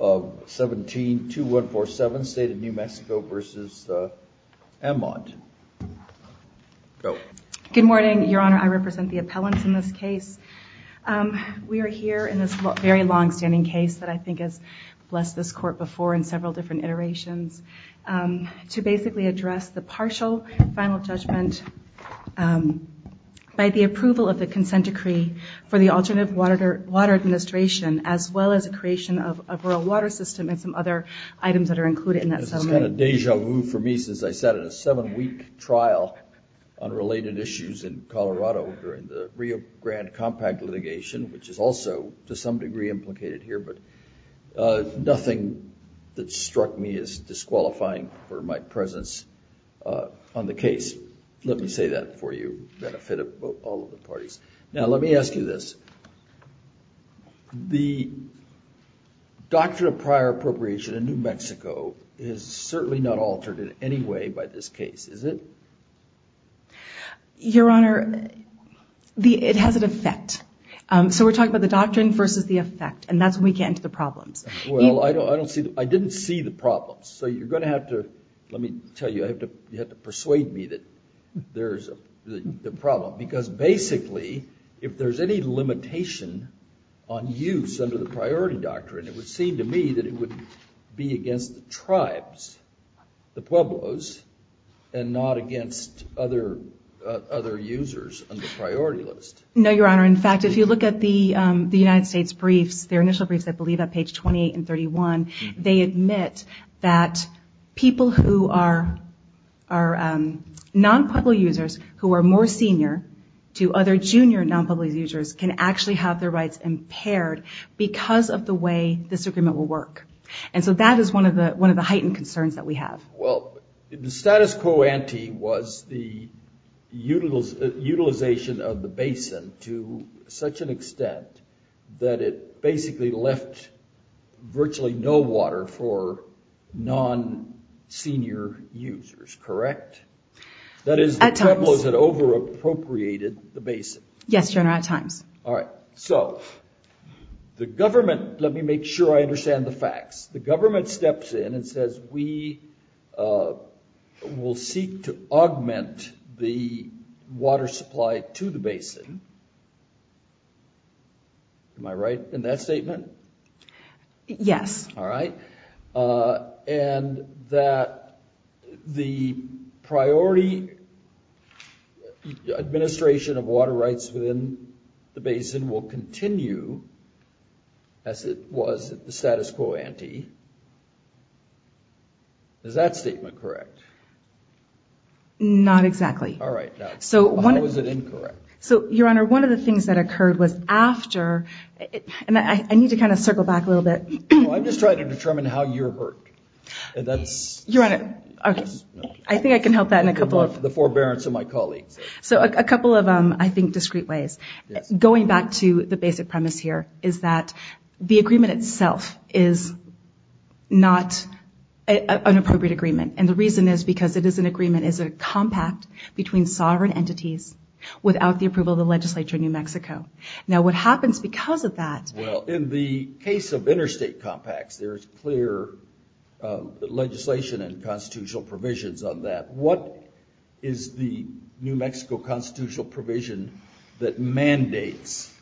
Good morning, your honor. I represent the appellants in this case. We are here in this very long-standing case that I think has blessed this court before in several different iterations to basically address the partial final judgment by the approval of the consent decree for the Alternative Water Administration as well as a creation of a rural water system and some other items that are included in that settlement. This is kind of deja vu for me since I sat in a seven-week trial on related issues in Colorado during the Rio Grande Compact litigation, which is also to some degree implicated here, but nothing that struck me as disqualifying for my presence on the case. Let me say that for you, for the benefit of all of the parties. Now, let me ask you this. The doctrine of prior appropriation in New Mexico is certainly not altered in any way by this case, is it? Your honor, it has an effect. So we're talking about the doctrine versus the effect, and that's when we get into the problems. Well, I didn't see the problems. So you're going to have to, let me tell you, you have to persuade me that there's the limitation on use under the priority doctrine. It would seem to me that it would be against the tribes, the Pueblos, and not against other users on the priority list. No, your honor. In fact, if you look at the United States briefs, their initial briefs, I believe at page 28 and 31, admit that people who are non-Pueblo users who are more senior to other junior non-Pueblo users can actually have their rights impaired because of the way this agreement will work. And so that is one of the heightened concerns that we have. Well, the status quo ante was the utilization of the basin to such an extent that it basically left virtually no water for non-senior users, correct? That is, the Pueblos had over-appropriated the basin. Yes, your honor, at times. All right. So the government, let me make sure I understand the facts. The government steps in and says, we will seek to augment the water supply to the basin. Am I right in that statement? Yes. All right. And that the priority administration of water rights within the basin will continue, as it was the status quo ante. Is that statement correct? Not exactly. All right. So one of the things that occurred was after, and I need to kind of circle back a little bit. I'm just trying to determine how you're hurt. I think I can help that in a couple of... The forbearance of my colleagues. So a couple of, I think, discrete ways. Going back to the basic premise here is that the agreement itself is not an appropriate agreement. And the reason is because it is an agreement is a compact between sovereign entities without the approval of the legislature in New Mexico. Now, what happens because of that... Well, in the case of interstate compacts, there's clear legislation and constitutional provisions on that. What is the New Mexico constitutional provision that mandates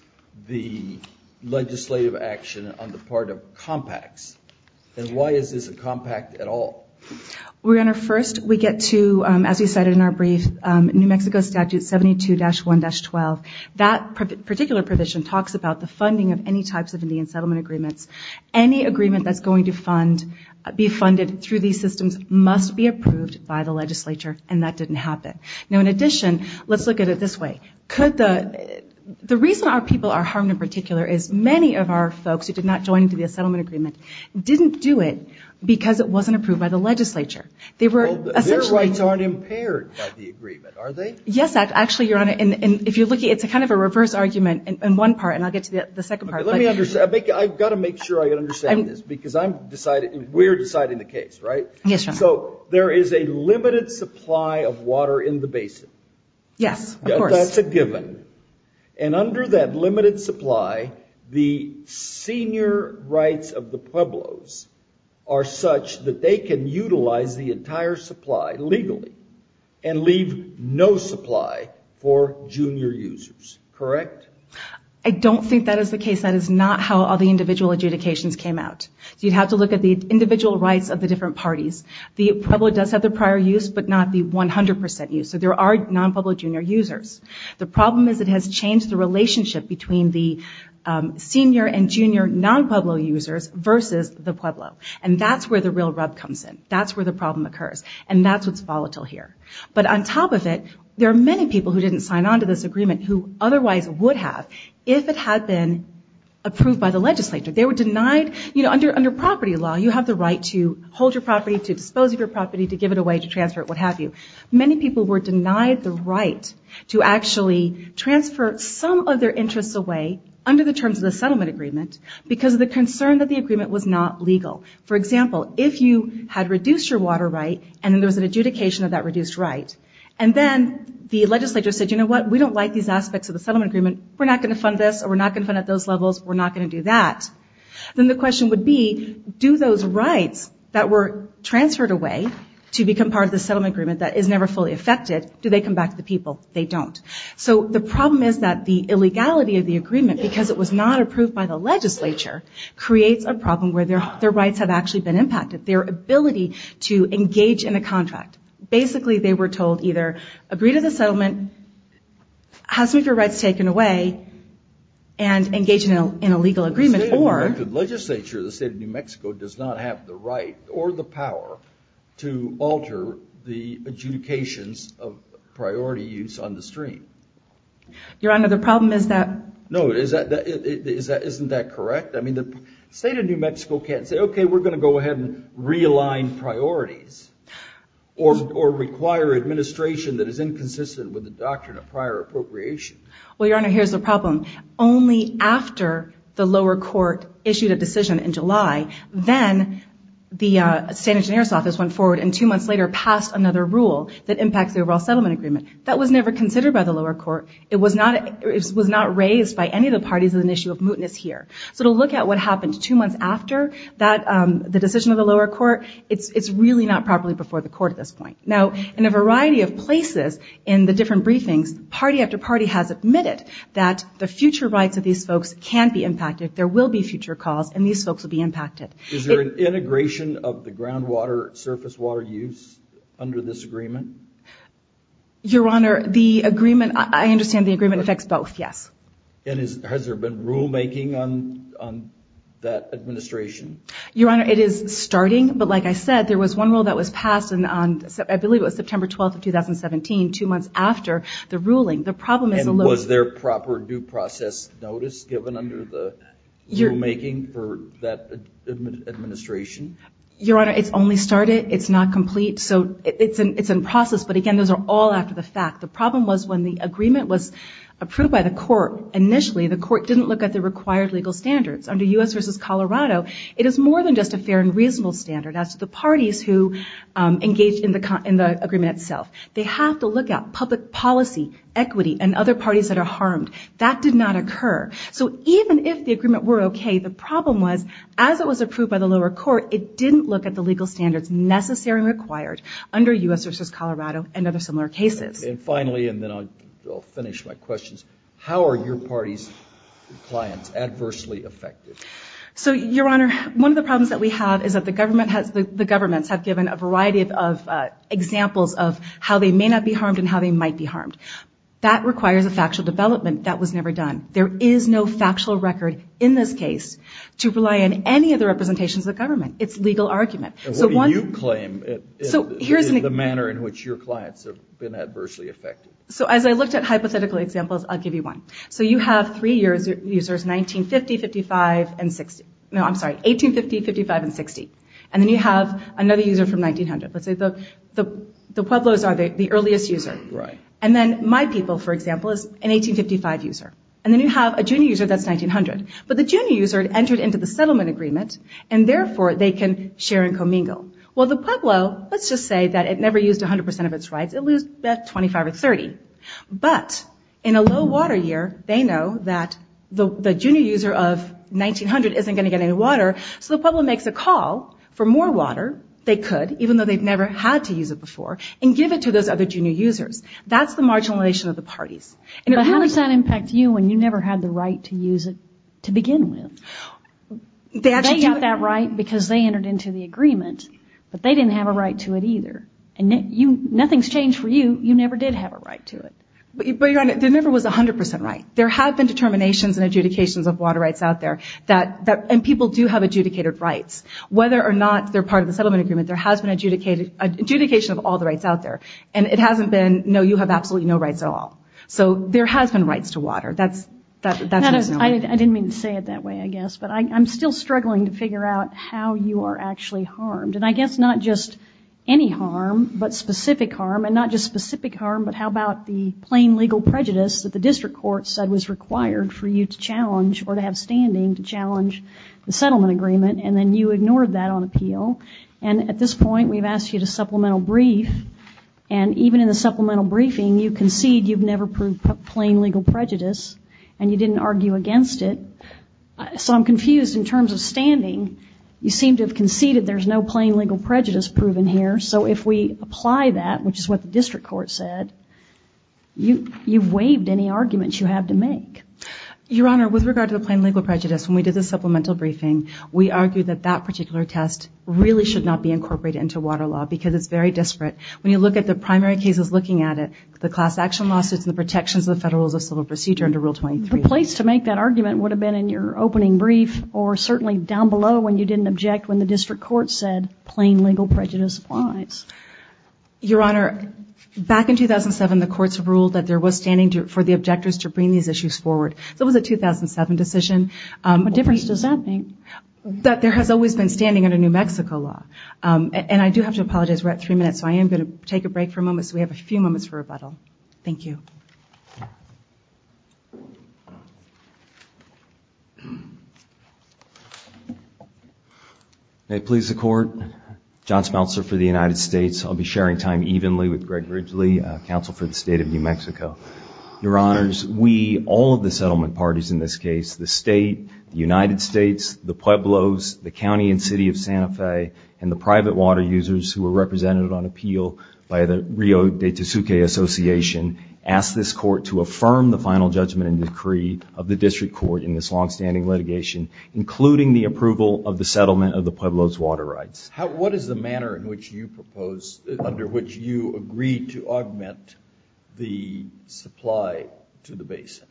the legislative action on the part of compacts? And why is this a compact at all? We're going to first, we get to, as we said in our brief, New Mexico statute 72-1-12. That particular provision talks about the funding of any types of Indian settlement agreements. Any agreement that's going to be funded through these systems must be approved by the legislature, and that didn't happen. Now, in addition, let's look at it this way. The reason our people are harmed in particular is many of our folks who did not join the settlement agreement didn't do it because it wasn't approved by the legislature. Their rights aren't impaired by the agreement, are they? Yes, actually, Your Honor. And if you're looking, it's a kind of a reverse argument in one part, and I'll get to the second part. I've got to make sure I understand this because I'm deciding, we're deciding the case, right? Yes, Your Honor. So there is a limited supply of water in the basin. Yes, of course. That's a given. And under that limited supply, the senior rights of the Pueblos are such that they can utilize the entire supply legally and leave no supply for junior users, correct? I don't think that is the case. That is not how all the individual adjudications came out. So you'd have to look at the individual rights of the different parties. The Pueblo does have the prior use, but not the 100% use. So there are non-Pueblo junior users. The problem is it has changed the relationship between the senior and junior non-Pueblo users versus the Pueblo, and that's where the real rub comes in. That's where the problem occurs, and that's what's volatile here. But on top of it, there are many people who didn't sign on to this agreement who otherwise would have if it had been approved by the legislature. They were denied, you know, under property law, you have the right to hold your property, to dispose of your property, to give it away, to transfer it, what have you. Many people were denied the right to actually transfer some of their interests away under the terms of the settlement agreement because of the concern that the agreement was not legal. For example, if you had reduced your water right and then there was an adjudication of that reduced right, and then the legislature said, you know what, we don't like these aspects of the settlement agreement. We're not going to fund this or we're not going to fund it at those levels. We're not going to do that. Then the question would be, do those rights that were transferred away to become part of the settlement agreement that is never fully affected, do they come back to the people? They don't. So the problem is that the illegality of the agreement, because it was not approved by the legislature, creates a problem where their rights have actually been Basically, they were told either agree to the settlement, have some of your rights taken away, and engage in a legal agreement or... The state of New Mexico does not have the right or the power to alter the adjudications of priority use on the stream. Your Honor, the problem is that... No, isn't that correct? I mean, the state of New Mexico can't say, okay, we're going to go ahead and realign priorities. Or require administration that is inconsistent with the doctrine of prior appropriation. Well, Your Honor, here's the problem. Only after the lower court issued a decision in July, then the state engineer's office went forward and two months later passed another rule that impacts the overall settlement agreement. That was never considered by the lower court. It was not raised by any of the parties as an issue of mootness here. So to look at what happened two months after the decision of the lower court, it's really not properly before the court at this point. Now, in a variety of places in the different briefings, party after party has admitted that the future rights of these folks can be impacted. There will be future calls, and these folks will be impacted. Is there an integration of the groundwater surface water use under this agreement? Your Honor, the agreement... I understand the agreement affects both, yes. Has there been rulemaking on that administration? Your Honor, it is starting, but like I said, there was one rule that was passed on, I believe it was September 12th of 2017, two months after the ruling. The problem is... Was there proper due process notice given under the rulemaking for that administration? Your Honor, it's only started. It's not complete. So it's in process. But again, those are all after the fact. The problem was when the agreement was approved by the court, initially, the court didn't look at the required legal standards. Under U.S. versus Colorado, it is more than just a fair and reasonable standard as to the parties who engaged in the agreement itself. They have to look at public policy, equity, and other parties that are harmed. That did not occur. So even if the agreement were okay, the problem was as it was approved by the lower court, it didn't look at the legal standards necessary and required under U.S. versus Colorado and other similar cases. And finally, and then I'll finish my questions, how are your party's clients adversely affected? So Your Honor, one of the problems that we have is that the government has, the governments have given a variety of examples of how they may not be harmed and how they might be harmed. That requires a factual development that was never done. There is no factual record in this case to rely on any of the representations of the legal argument. What do you claim in the manner in which your clients have been adversely affected? So as I looked at hypothetical examples, I'll give you one. So you have three users, 1950, 55, and 60. No, I'm sorry, 1850, 55, and 60. And then you have another user from 1900. Let's say the Pueblos are the earliest user. Right. And then my people, for example, is an 1855 user. And then you have a junior user that's 1900. But the junior user entered into the settlement agreement, and therefore they can share and commingle. Well, the Pueblo, let's just say that it never used 100% of its rights. It losed about 25 or 30. But in a low water year, they know that the junior user of 1900 isn't going to get any water. So the Pueblo makes a call for more water, they could, even though they've never had to use it before, and give it to those other junior users. That's the marginalization of the parties. But how does that impact you when you never had the right to use it to begin with? They got that right because they entered into the agreement, but they didn't have a right to it either. And nothing's changed for you. You never did have a right to it. But Your Honor, there never was 100% right. There have been determinations and adjudications of water rights out there. And people do have adjudicated rights. Whether or not they're part of the settlement agreement, there has been adjudication of all the rights out there. And it hasn't been, no, you have absolutely no rights at all. So there has been rights to water. That's, I didn't mean to say it that way, I guess, but I'm still struggling to figure out how you are actually harmed. And I guess not just any harm, but specific harm, and not just specific harm, but how about the plain legal prejudice that the district court said was required for you to challenge or to have standing to challenge the settlement agreement, and then you ignored that on appeal. And at this point, we've asked you to supplemental brief. And even in the supplemental briefing, you concede you've never proved plain legal prejudice, and you didn't argue against it. So I'm confused in terms of standing. You seem to have conceded there's no plain legal prejudice proven here. So if we apply that, which is what the district court said, you've waived any arguments you have to make. Your Honor, with regard to the plain legal prejudice, when we did the supplemental briefing, we argued that that particular test really should not be incorporated into water law because it's very disparate. When you look at the primary cases looking at it, the class action lawsuits and the protections of the Federal Rules of Civil Procedure under Rule 23. The place to make that argument would have been in your opening brief, or certainly down below when you didn't object when the district court said plain legal prejudice applies. Your Honor, back in 2007, the courts have ruled that there was standing for the objectors to bring these issues forward. So it was a 2007 decision. What difference does that make? That there has always been standing under New Mexico law. And I do have to apologize. We're at three minutes. So I am going to take a break for a moment. So we have a few moments for rebuttal. Thank you. May it please the Court. John Smeltzer for the United States. I'll be sharing time evenly with Greg Ridgely, Counsel for the State of New Mexico. Your Honors, we, all of the settlement parties in this case, the State, the United States, the Pueblos, the County and City of Santa Fe, and the private water users who were represented on appeal by the Rio de Tosuque Association, asked this Court to affirm the final judgment and decree of the district court in this long-standing litigation, including the approval of the settlement of the Pueblos water rights. What is the manner in which you propose, under which you agree to augment the supply to the basin?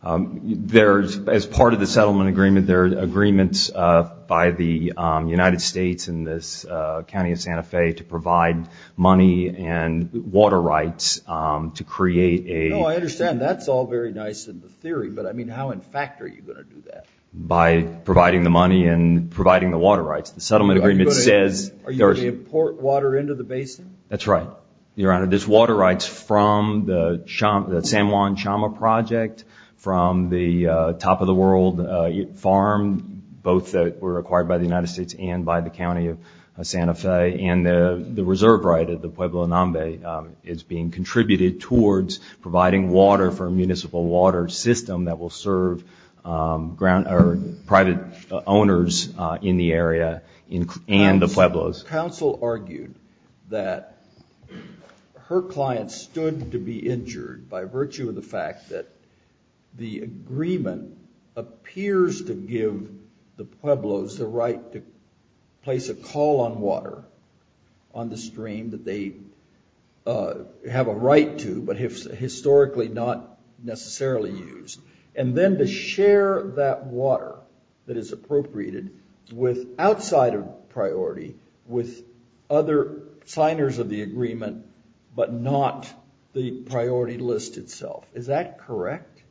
As part of the settlement agreement, there are agreements by the United States and this County of Santa Fe to provide money and water rights to create a... No, I understand. That's all very nice in the theory. But I mean, how in fact are you going to do that? By providing the money and providing the water rights? The settlement agreement says... Are you going to import water into the basin? That's right. Your Honor, there's water rights from the San Juan Chama project, from the Top of the World farm, both that were acquired by the United States and by the County of Santa Fe, and the reserve right of the Pueblo Nambe is being contributed towards providing water for a municipal water system that will serve private owners in the area and the Pueblos. Counsel argued that her client stood to be injured by virtue of the fact that the agreement appears to give the Pueblos the right to place a call on water on the stream that they have a right to, but historically not necessarily used, and then to share that water that is appropriated with outside of priority with other signers of the agreement, but not the priority list itself. Is that correct?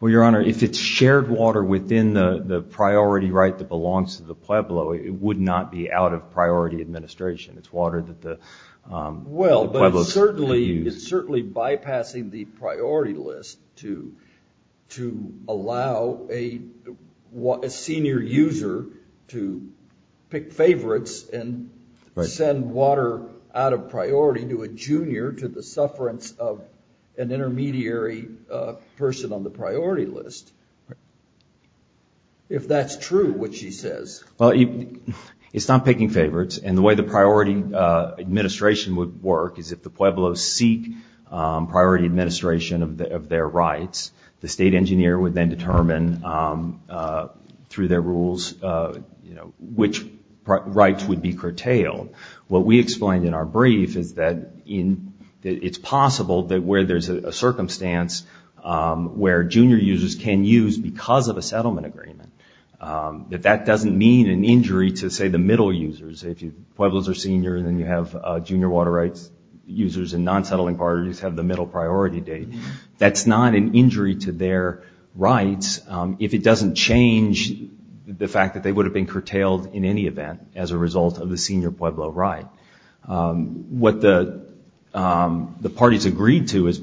Well, Your Honor, if it's shared water within the priority right that belongs to the Pueblo, it would not be out of priority administration. It's water that the Pueblos use. It's certainly bypassing the priority list to allow a senior user to pick favorites and send water out of priority to a junior to the sufferance of an intermediary person on the priority list. If that's true, which she says. Well, it's not picking favorites, and the way priority administration would work is if the Pueblos seek priority administration of their rights, the state engineer would then determine through their rules which rights would be curtailed. What we explained in our brief is that it's possible that where there's a circumstance where junior users can use because of a settlement agreement, that that doesn't mean an injury to, say, the middle users. If Pueblos are senior and then you have junior water rights users and non-settling parties have the middle priority date, that's not an injury to their rights if it doesn't change the fact that they would have been curtailed in any event as a result of the senior Pueblo right. What the parties agreed to as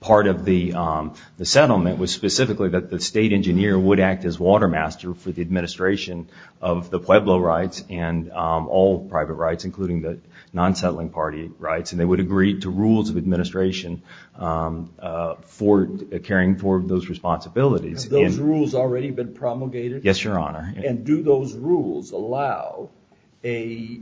part of the settlement was specifically that the state engineer would act as water master for the administration of the Pueblo rights and all private rights, including the non-settling party rights, and they would agree to rules of administration for caring for those responsibilities. Have those rules already been promulgated? Yes, Your Honor. Do those rules allow a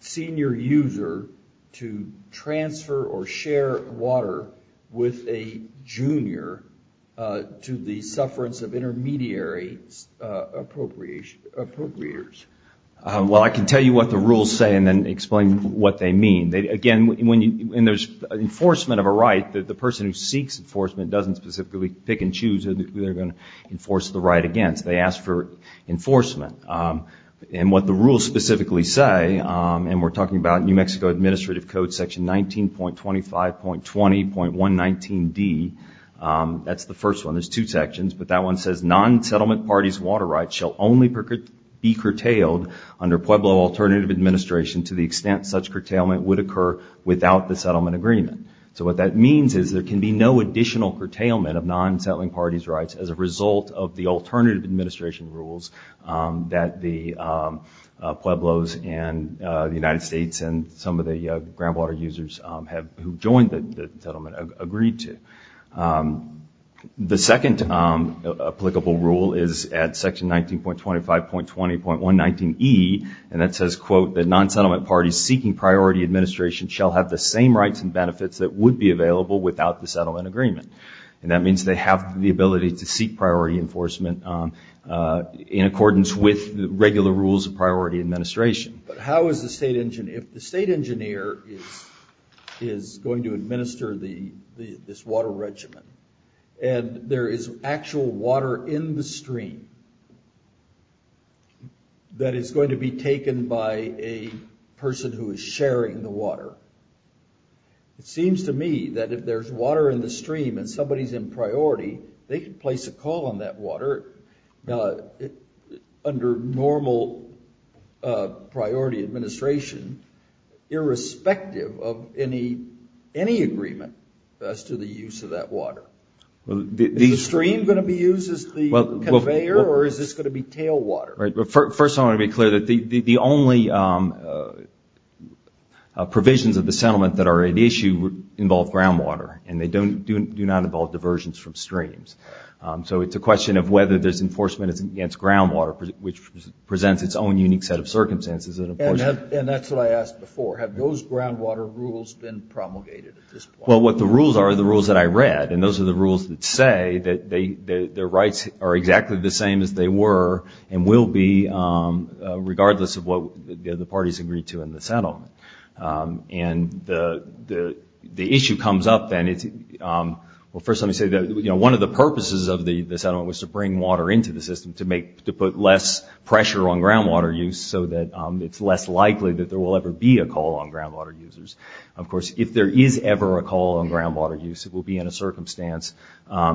senior user to transfer or share water with a junior to the sufferance of intermediary appropriators? Well, I can tell you what the rules say and then explain what they mean. Again, when there's enforcement of a right, the person who seeks enforcement doesn't specifically pick and choose who they're going to enforce the right against. They ask for enforcement. And what the rules specifically say, and we're talking about New Mexico, that's the first one. There's two sections, but that one says non-settlement parties' water rights shall only be curtailed under Pueblo alternative administration to the extent such curtailment would occur without the settlement agreement. So what that means is there can be no additional curtailment of non-settling parties' rights as a result of the alternative administration rules that the Pueblos and the United States and some of the groundwater users have joined the settlement agreed to. The second applicable rule is at section 19.25.20.119E, and that says, quote, that non-settlement parties seeking priority administration shall have the same rights and benefits that would be available without the settlement agreement. And that means they have the ability to seek priority enforcement in accordance with regular rules of priority administration. But how is the state engineer, if the state engineer is going to administer this water regimen, and there is actual water in the stream that is going to be taken by a person who is sharing the water, it seems to me that if there's water in the stream and somebody's in priority, they could place a call on that water under normal priority administration irrespective of any agreement as to the use of that water. Is the stream going to be used as the conveyor, or is this going to be tailwater? First, I want to be clear that the only provisions of the settlement that are at issue involve groundwater, and they do not involve diversions from streams. So it's a question of whether there's enforcement against groundwater, which presents its own unique set of circumstances. And that's what I asked before. Have those groundwater rules been promulgated at this point? Well, what the rules are are the rules that I read, and those are the rules that say that their rights are exactly the same as they were and will be regardless of what the parties agreed to in the settlement. And the issue comes up then, well, first let me say that one of the purposes of the settlement was to bring water into the system to put less pressure on groundwater use so that it's less likely that there will ever be a call on groundwater users. Of course, if there is ever a call on groundwater use, it will be in a circumstance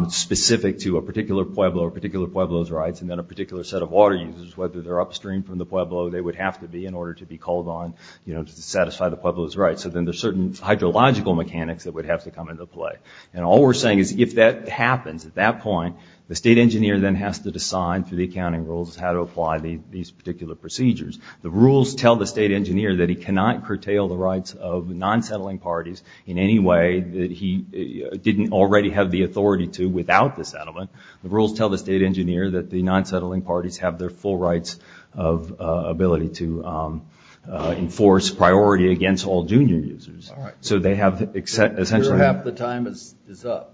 specific to a particular Pueblo or particular Pueblo's rights, and then a particular set of water users, whether they're upstream from the Pueblo, they would have to be in order to be called on to satisfy the Pueblo's rights. So then there's hydrological mechanics that would have to come into play. And all we're saying is if that happens at that point, the state engineer then has to decide through the accounting rules how to apply these particular procedures. The rules tell the state engineer that he cannot curtail the rights of non-settling parties in any way that he didn't already have the authority to without the settlement. The rules tell the state engineer that the non-settling parties have their full rights of ability to enforce priority against all junior users. So they have essentially... Your half the time is up.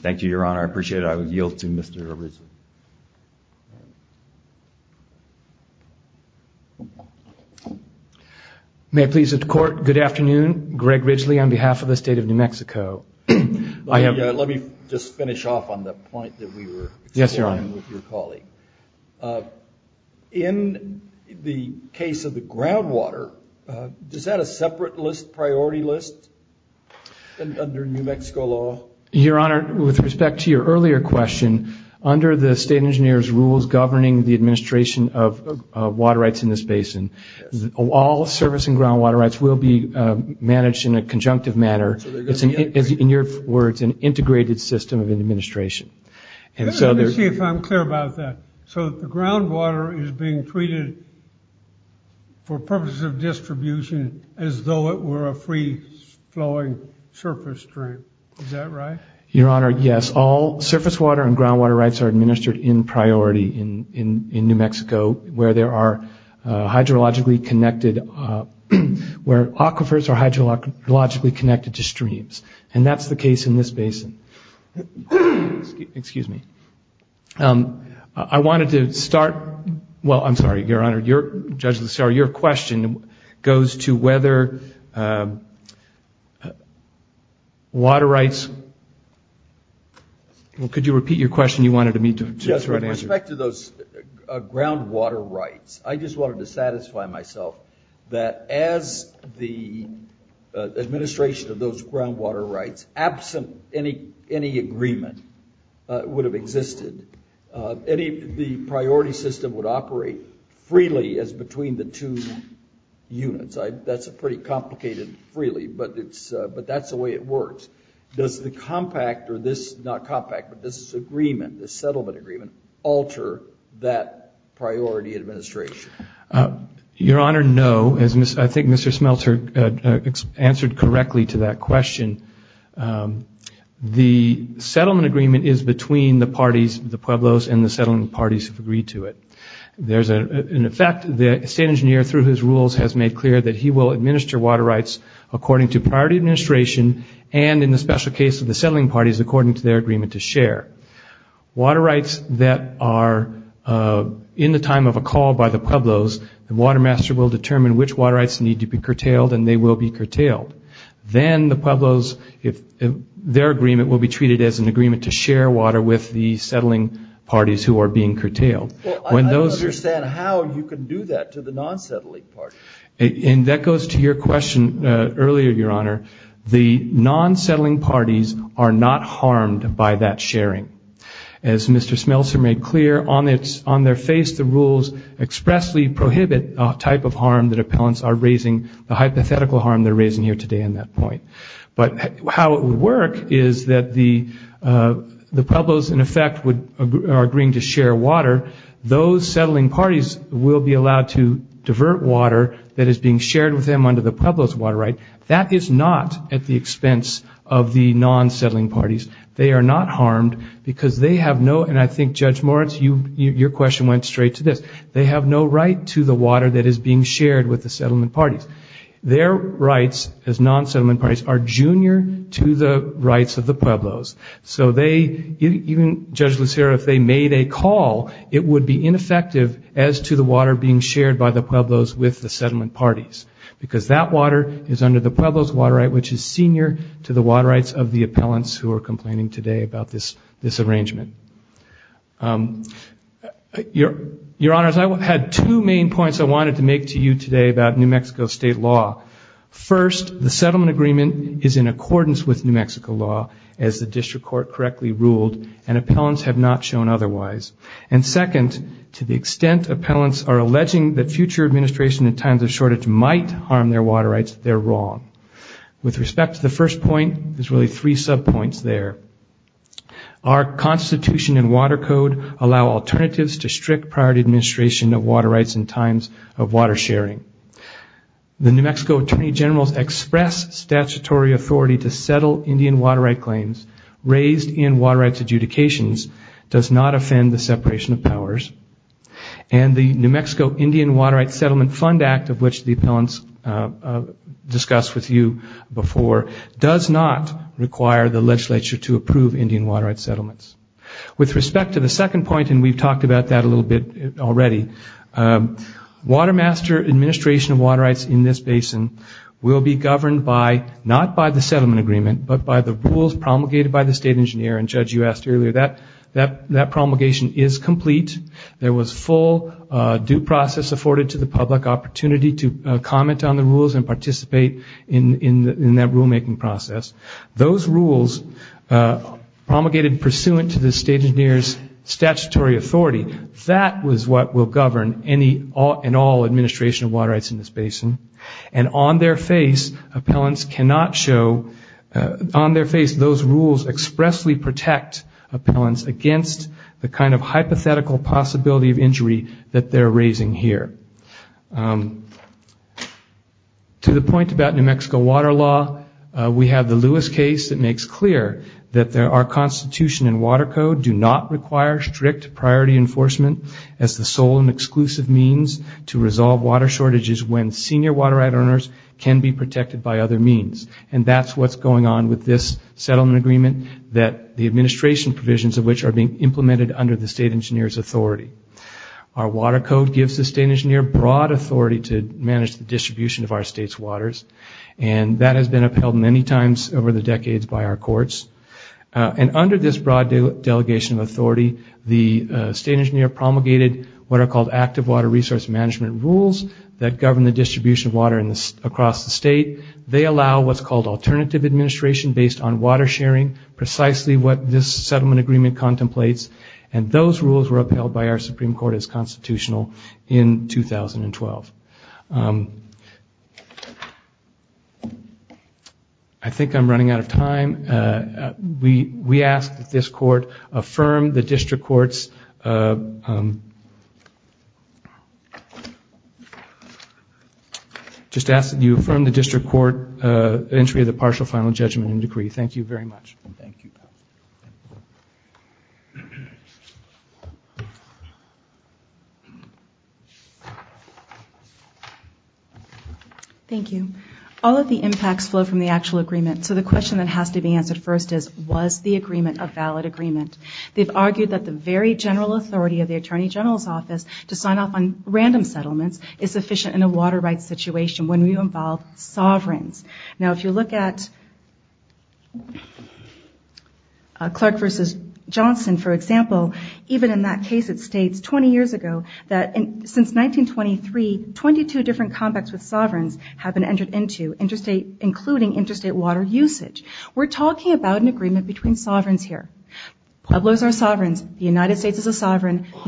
Thank you, your honor. I appreciate it. I would yield to Mr. Ridgely. May it please the court. Good afternoon. Greg Ridgely on behalf of the state of New Mexico. Let me just finish off on the point that we were... Yes, your honor. ...with your colleague. In the case of the groundwater, is that a separate priority list under New Mexico law? Your honor, with respect to your earlier question, under the state engineer's rules governing the administration of water rights in this basin, all service and groundwater rights will be managed in a conjunctive manner. In your words, an integrated system of administration. Let me see if I'm clear about that. So the groundwater is being treated for purposes of distribution as though it were a free-flowing surface stream. Is that right? Your honor, yes. All surface water and groundwater rights are administered in priority in New Mexico where there are hydrologically connected... where aquifers are hydrologically connected to streams. And that's the case in this basin. Excuse me. I wanted to start... Well, I'm sorry, your honor, your... Judge Lucero, your question goes to whether water rights... Well, could you repeat your question you wanted me to... Yes, with respect to those groundwater rights, I just wanted to satisfy myself that as the administration of those groundwater rights, absent any agreement would have existed, the priority system would operate freely as between the two units. That's a pretty complicated freely, but that's the way it works. Does the compact or this, not compact, but this agreement, the settlement agreement, alter that priority administration? Your honor, no. As I think Mr. Smelter answered correctly to that question, the settlement agreement is between the parties, the Pueblos and the settling parties have agreed to it. In effect, the state engineer through his rules has made clear that he will administer water rights according to priority administration and in the special case of the settling parties, according to their agreement to share. Water rights that are in the time of a call by the Pueblos, the water master will determine which water rights need to be curtailed and they will be curtailed. Then the Pueblos, their agreement will be treated as an agreement to share water with the settling parties who are being curtailed. I don't understand how you can do that to the non-settling parties. And that goes to your question earlier, your honor. The non-settling parties are not harmed by that sharing. As Mr. Smelter made clear, on their face, the rules expressly prohibit a type of harm that appellants are raising, the hypothetical harm they're raising here today in that point. But how it would work is that the Pueblos, in effect, are agreeing to share water. Those settling parties will be allowed to divert water that is being shared with the Pueblos water right. That is not at the expense of the non-settling parties. They are not harmed because they have no, and I think Judge Moritz, your question went straight to this, they have no right to the water that is being shared with the settlement parties. Their rights as non-settlement parties are junior to the rights of the Pueblos. So they, even Judge Lucero, if they made a call, it would be ineffective as to the water being shared by the Pueblos with the settlement parties. Because that water is under the Pueblos water right, which is senior to the water rights of the appellants who are complaining today about this arrangement. Your Honors, I had two main points I wanted to make to you today about New Mexico state law. First, the settlement agreement is in accordance with New Mexico law, as the district court correctly ruled, and appellants have not shown otherwise. And second, to the extent appellants are alleging that future administration in times of shortage might harm their water rights, they're wrong. With respect to the first point, there's really three sub points there. Our constitution and water code allow alternatives to strict priority administration of water rights in times of water sharing. The New Mexico Attorney General's express statutory authority to settle Indian water right claims raised in water rights adjudications does not offend the separation of powers. And the New Mexico Indian water right settlement fund act, of which the appellants discussed with you before, does not require the legislature to approve Indian water rights settlements. With respect to the second point, and we've talked about that a little bit already, water master administration of water rights in this basin will be governed by, not by the settlement agreement, but by the rules promulgated by the state engineer. And Judge, you asked earlier, that promulgation is complete. There was full due process afforded to the public opportunity to comment on the rules and participate in that rulemaking process. Those rules promulgated pursuant to the state engineer's statutory authority, that was what will govern any and all administration of water rights in this basin. And on their face, appellants cannot show, on their face, those rules expressly protect appellants against the kind of hypothetical possibility of injury that they're raising here. To the point about New Mexico water law, we have the Lewis case that makes clear that our constitution and water code do not require strict priority enforcement as the sole and exclusive means to resolve water shortages when senior water right earners can be protected by other means. And that's what's going on with this settlement agreement, that the administration provisions of which are being implemented under the state engineer's authority. Our water code gives the state engineer broad authority to manage the distribution of our state's waters, and that has been upheld many times over the decades by our courts. And under this broad delegation of authority, the state engineer promulgated what are called active water resource management rules that govern the distribution of water across the state. They allow what's called alternative administration based on water sharing, precisely what this settlement agreement contemplates. And those rules were upheld by our Supreme Court as constitutional in 2012. I think I'm running out of time. We ask that this court affirm the district court's... I just ask that you affirm the district court entry of the partial final judgment and decree. Thank you very much. Thank you. Thank you. All of the impacts flow from the actual agreement. So the question that has to be answered first is, was the agreement a valid agreement? They've argued that the very general authority of the attorney general's office to sign off on random settlements is sufficient in a water rights situation when we involve sovereigns. Now, if you look at Clark versus Johnson, for example, even in that case, it states 20 years ago that since 1923, 22 different combats with sovereigns have been entered into, including interstate water usage. We're talking about an agreement between sovereigns here. Pueblos are sovereigns. The New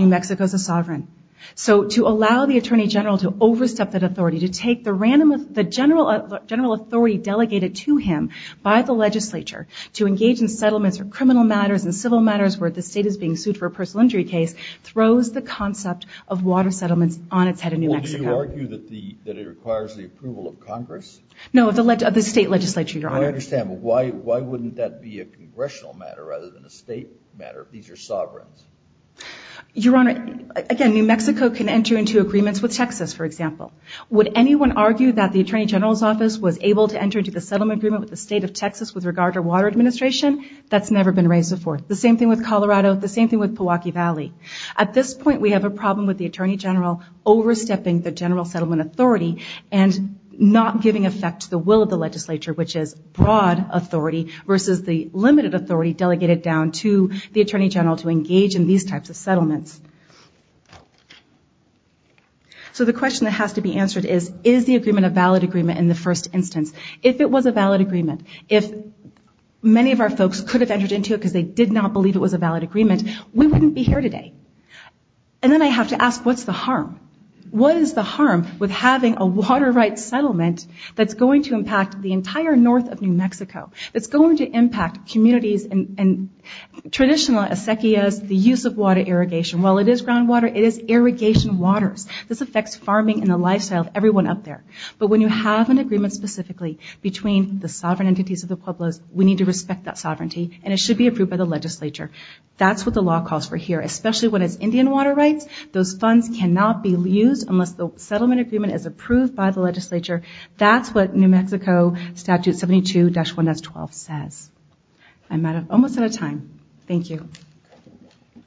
Mexico is a sovereign. So to allow the attorney general to overstep that authority, to take the general authority delegated to him by the legislature to engage in settlements or criminal matters and civil matters where the state is being sued for a personal injury case, throws the concept of water settlements on its head in New Mexico. Well, do you argue that it requires the approval of Congress? No, of the state legislature, Your Honor. I understand. But why wouldn't that be a congressional matter rather than a state matter if these are sovereigns? Your Honor, again, New Mexico can enter into agreements with Texas, for example. Would anyone argue that the attorney general's office was able to enter into the settlement agreement with the state of Texas with regard to water administration? That's never been raised before. The same thing with Colorado. The same thing with Pewaukee Valley. At this point, we have a problem with the attorney general overstepping the general settlement authority and not giving effect to the will of the legislature, which is broad versus the limited authority delegated down to the attorney general to engage in these types of settlements. So the question that has to be answered is, is the agreement a valid agreement in the first instance? If it was a valid agreement, if many of our folks could have entered into it because they did not believe it was a valid agreement, we wouldn't be here today. And then I have to ask, what's the harm? What is the harm with having a water rights settlement that's going to impact the entire north of New Mexico? It's going to impact communities and traditional, as Secchia's, the use of water irrigation. While it is groundwater, it is irrigation waters. This affects farming and the lifestyle of everyone up there. But when you have an agreement specifically between the sovereign entities of the pueblos, we need to respect that sovereignty and it should be approved by the legislature. That's what the law calls for here, especially when it's Indian water rights. Those funds cannot be used unless the settlement agreement is approved by the legislature. That's what New Mexico Statute 72-1S12 says. I'm almost out of time. Thank you.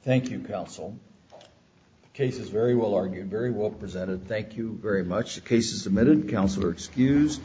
Thank you, counsel. The case is very well argued, very well presented. Thank you very much. The case is submitted. Counsel are excused.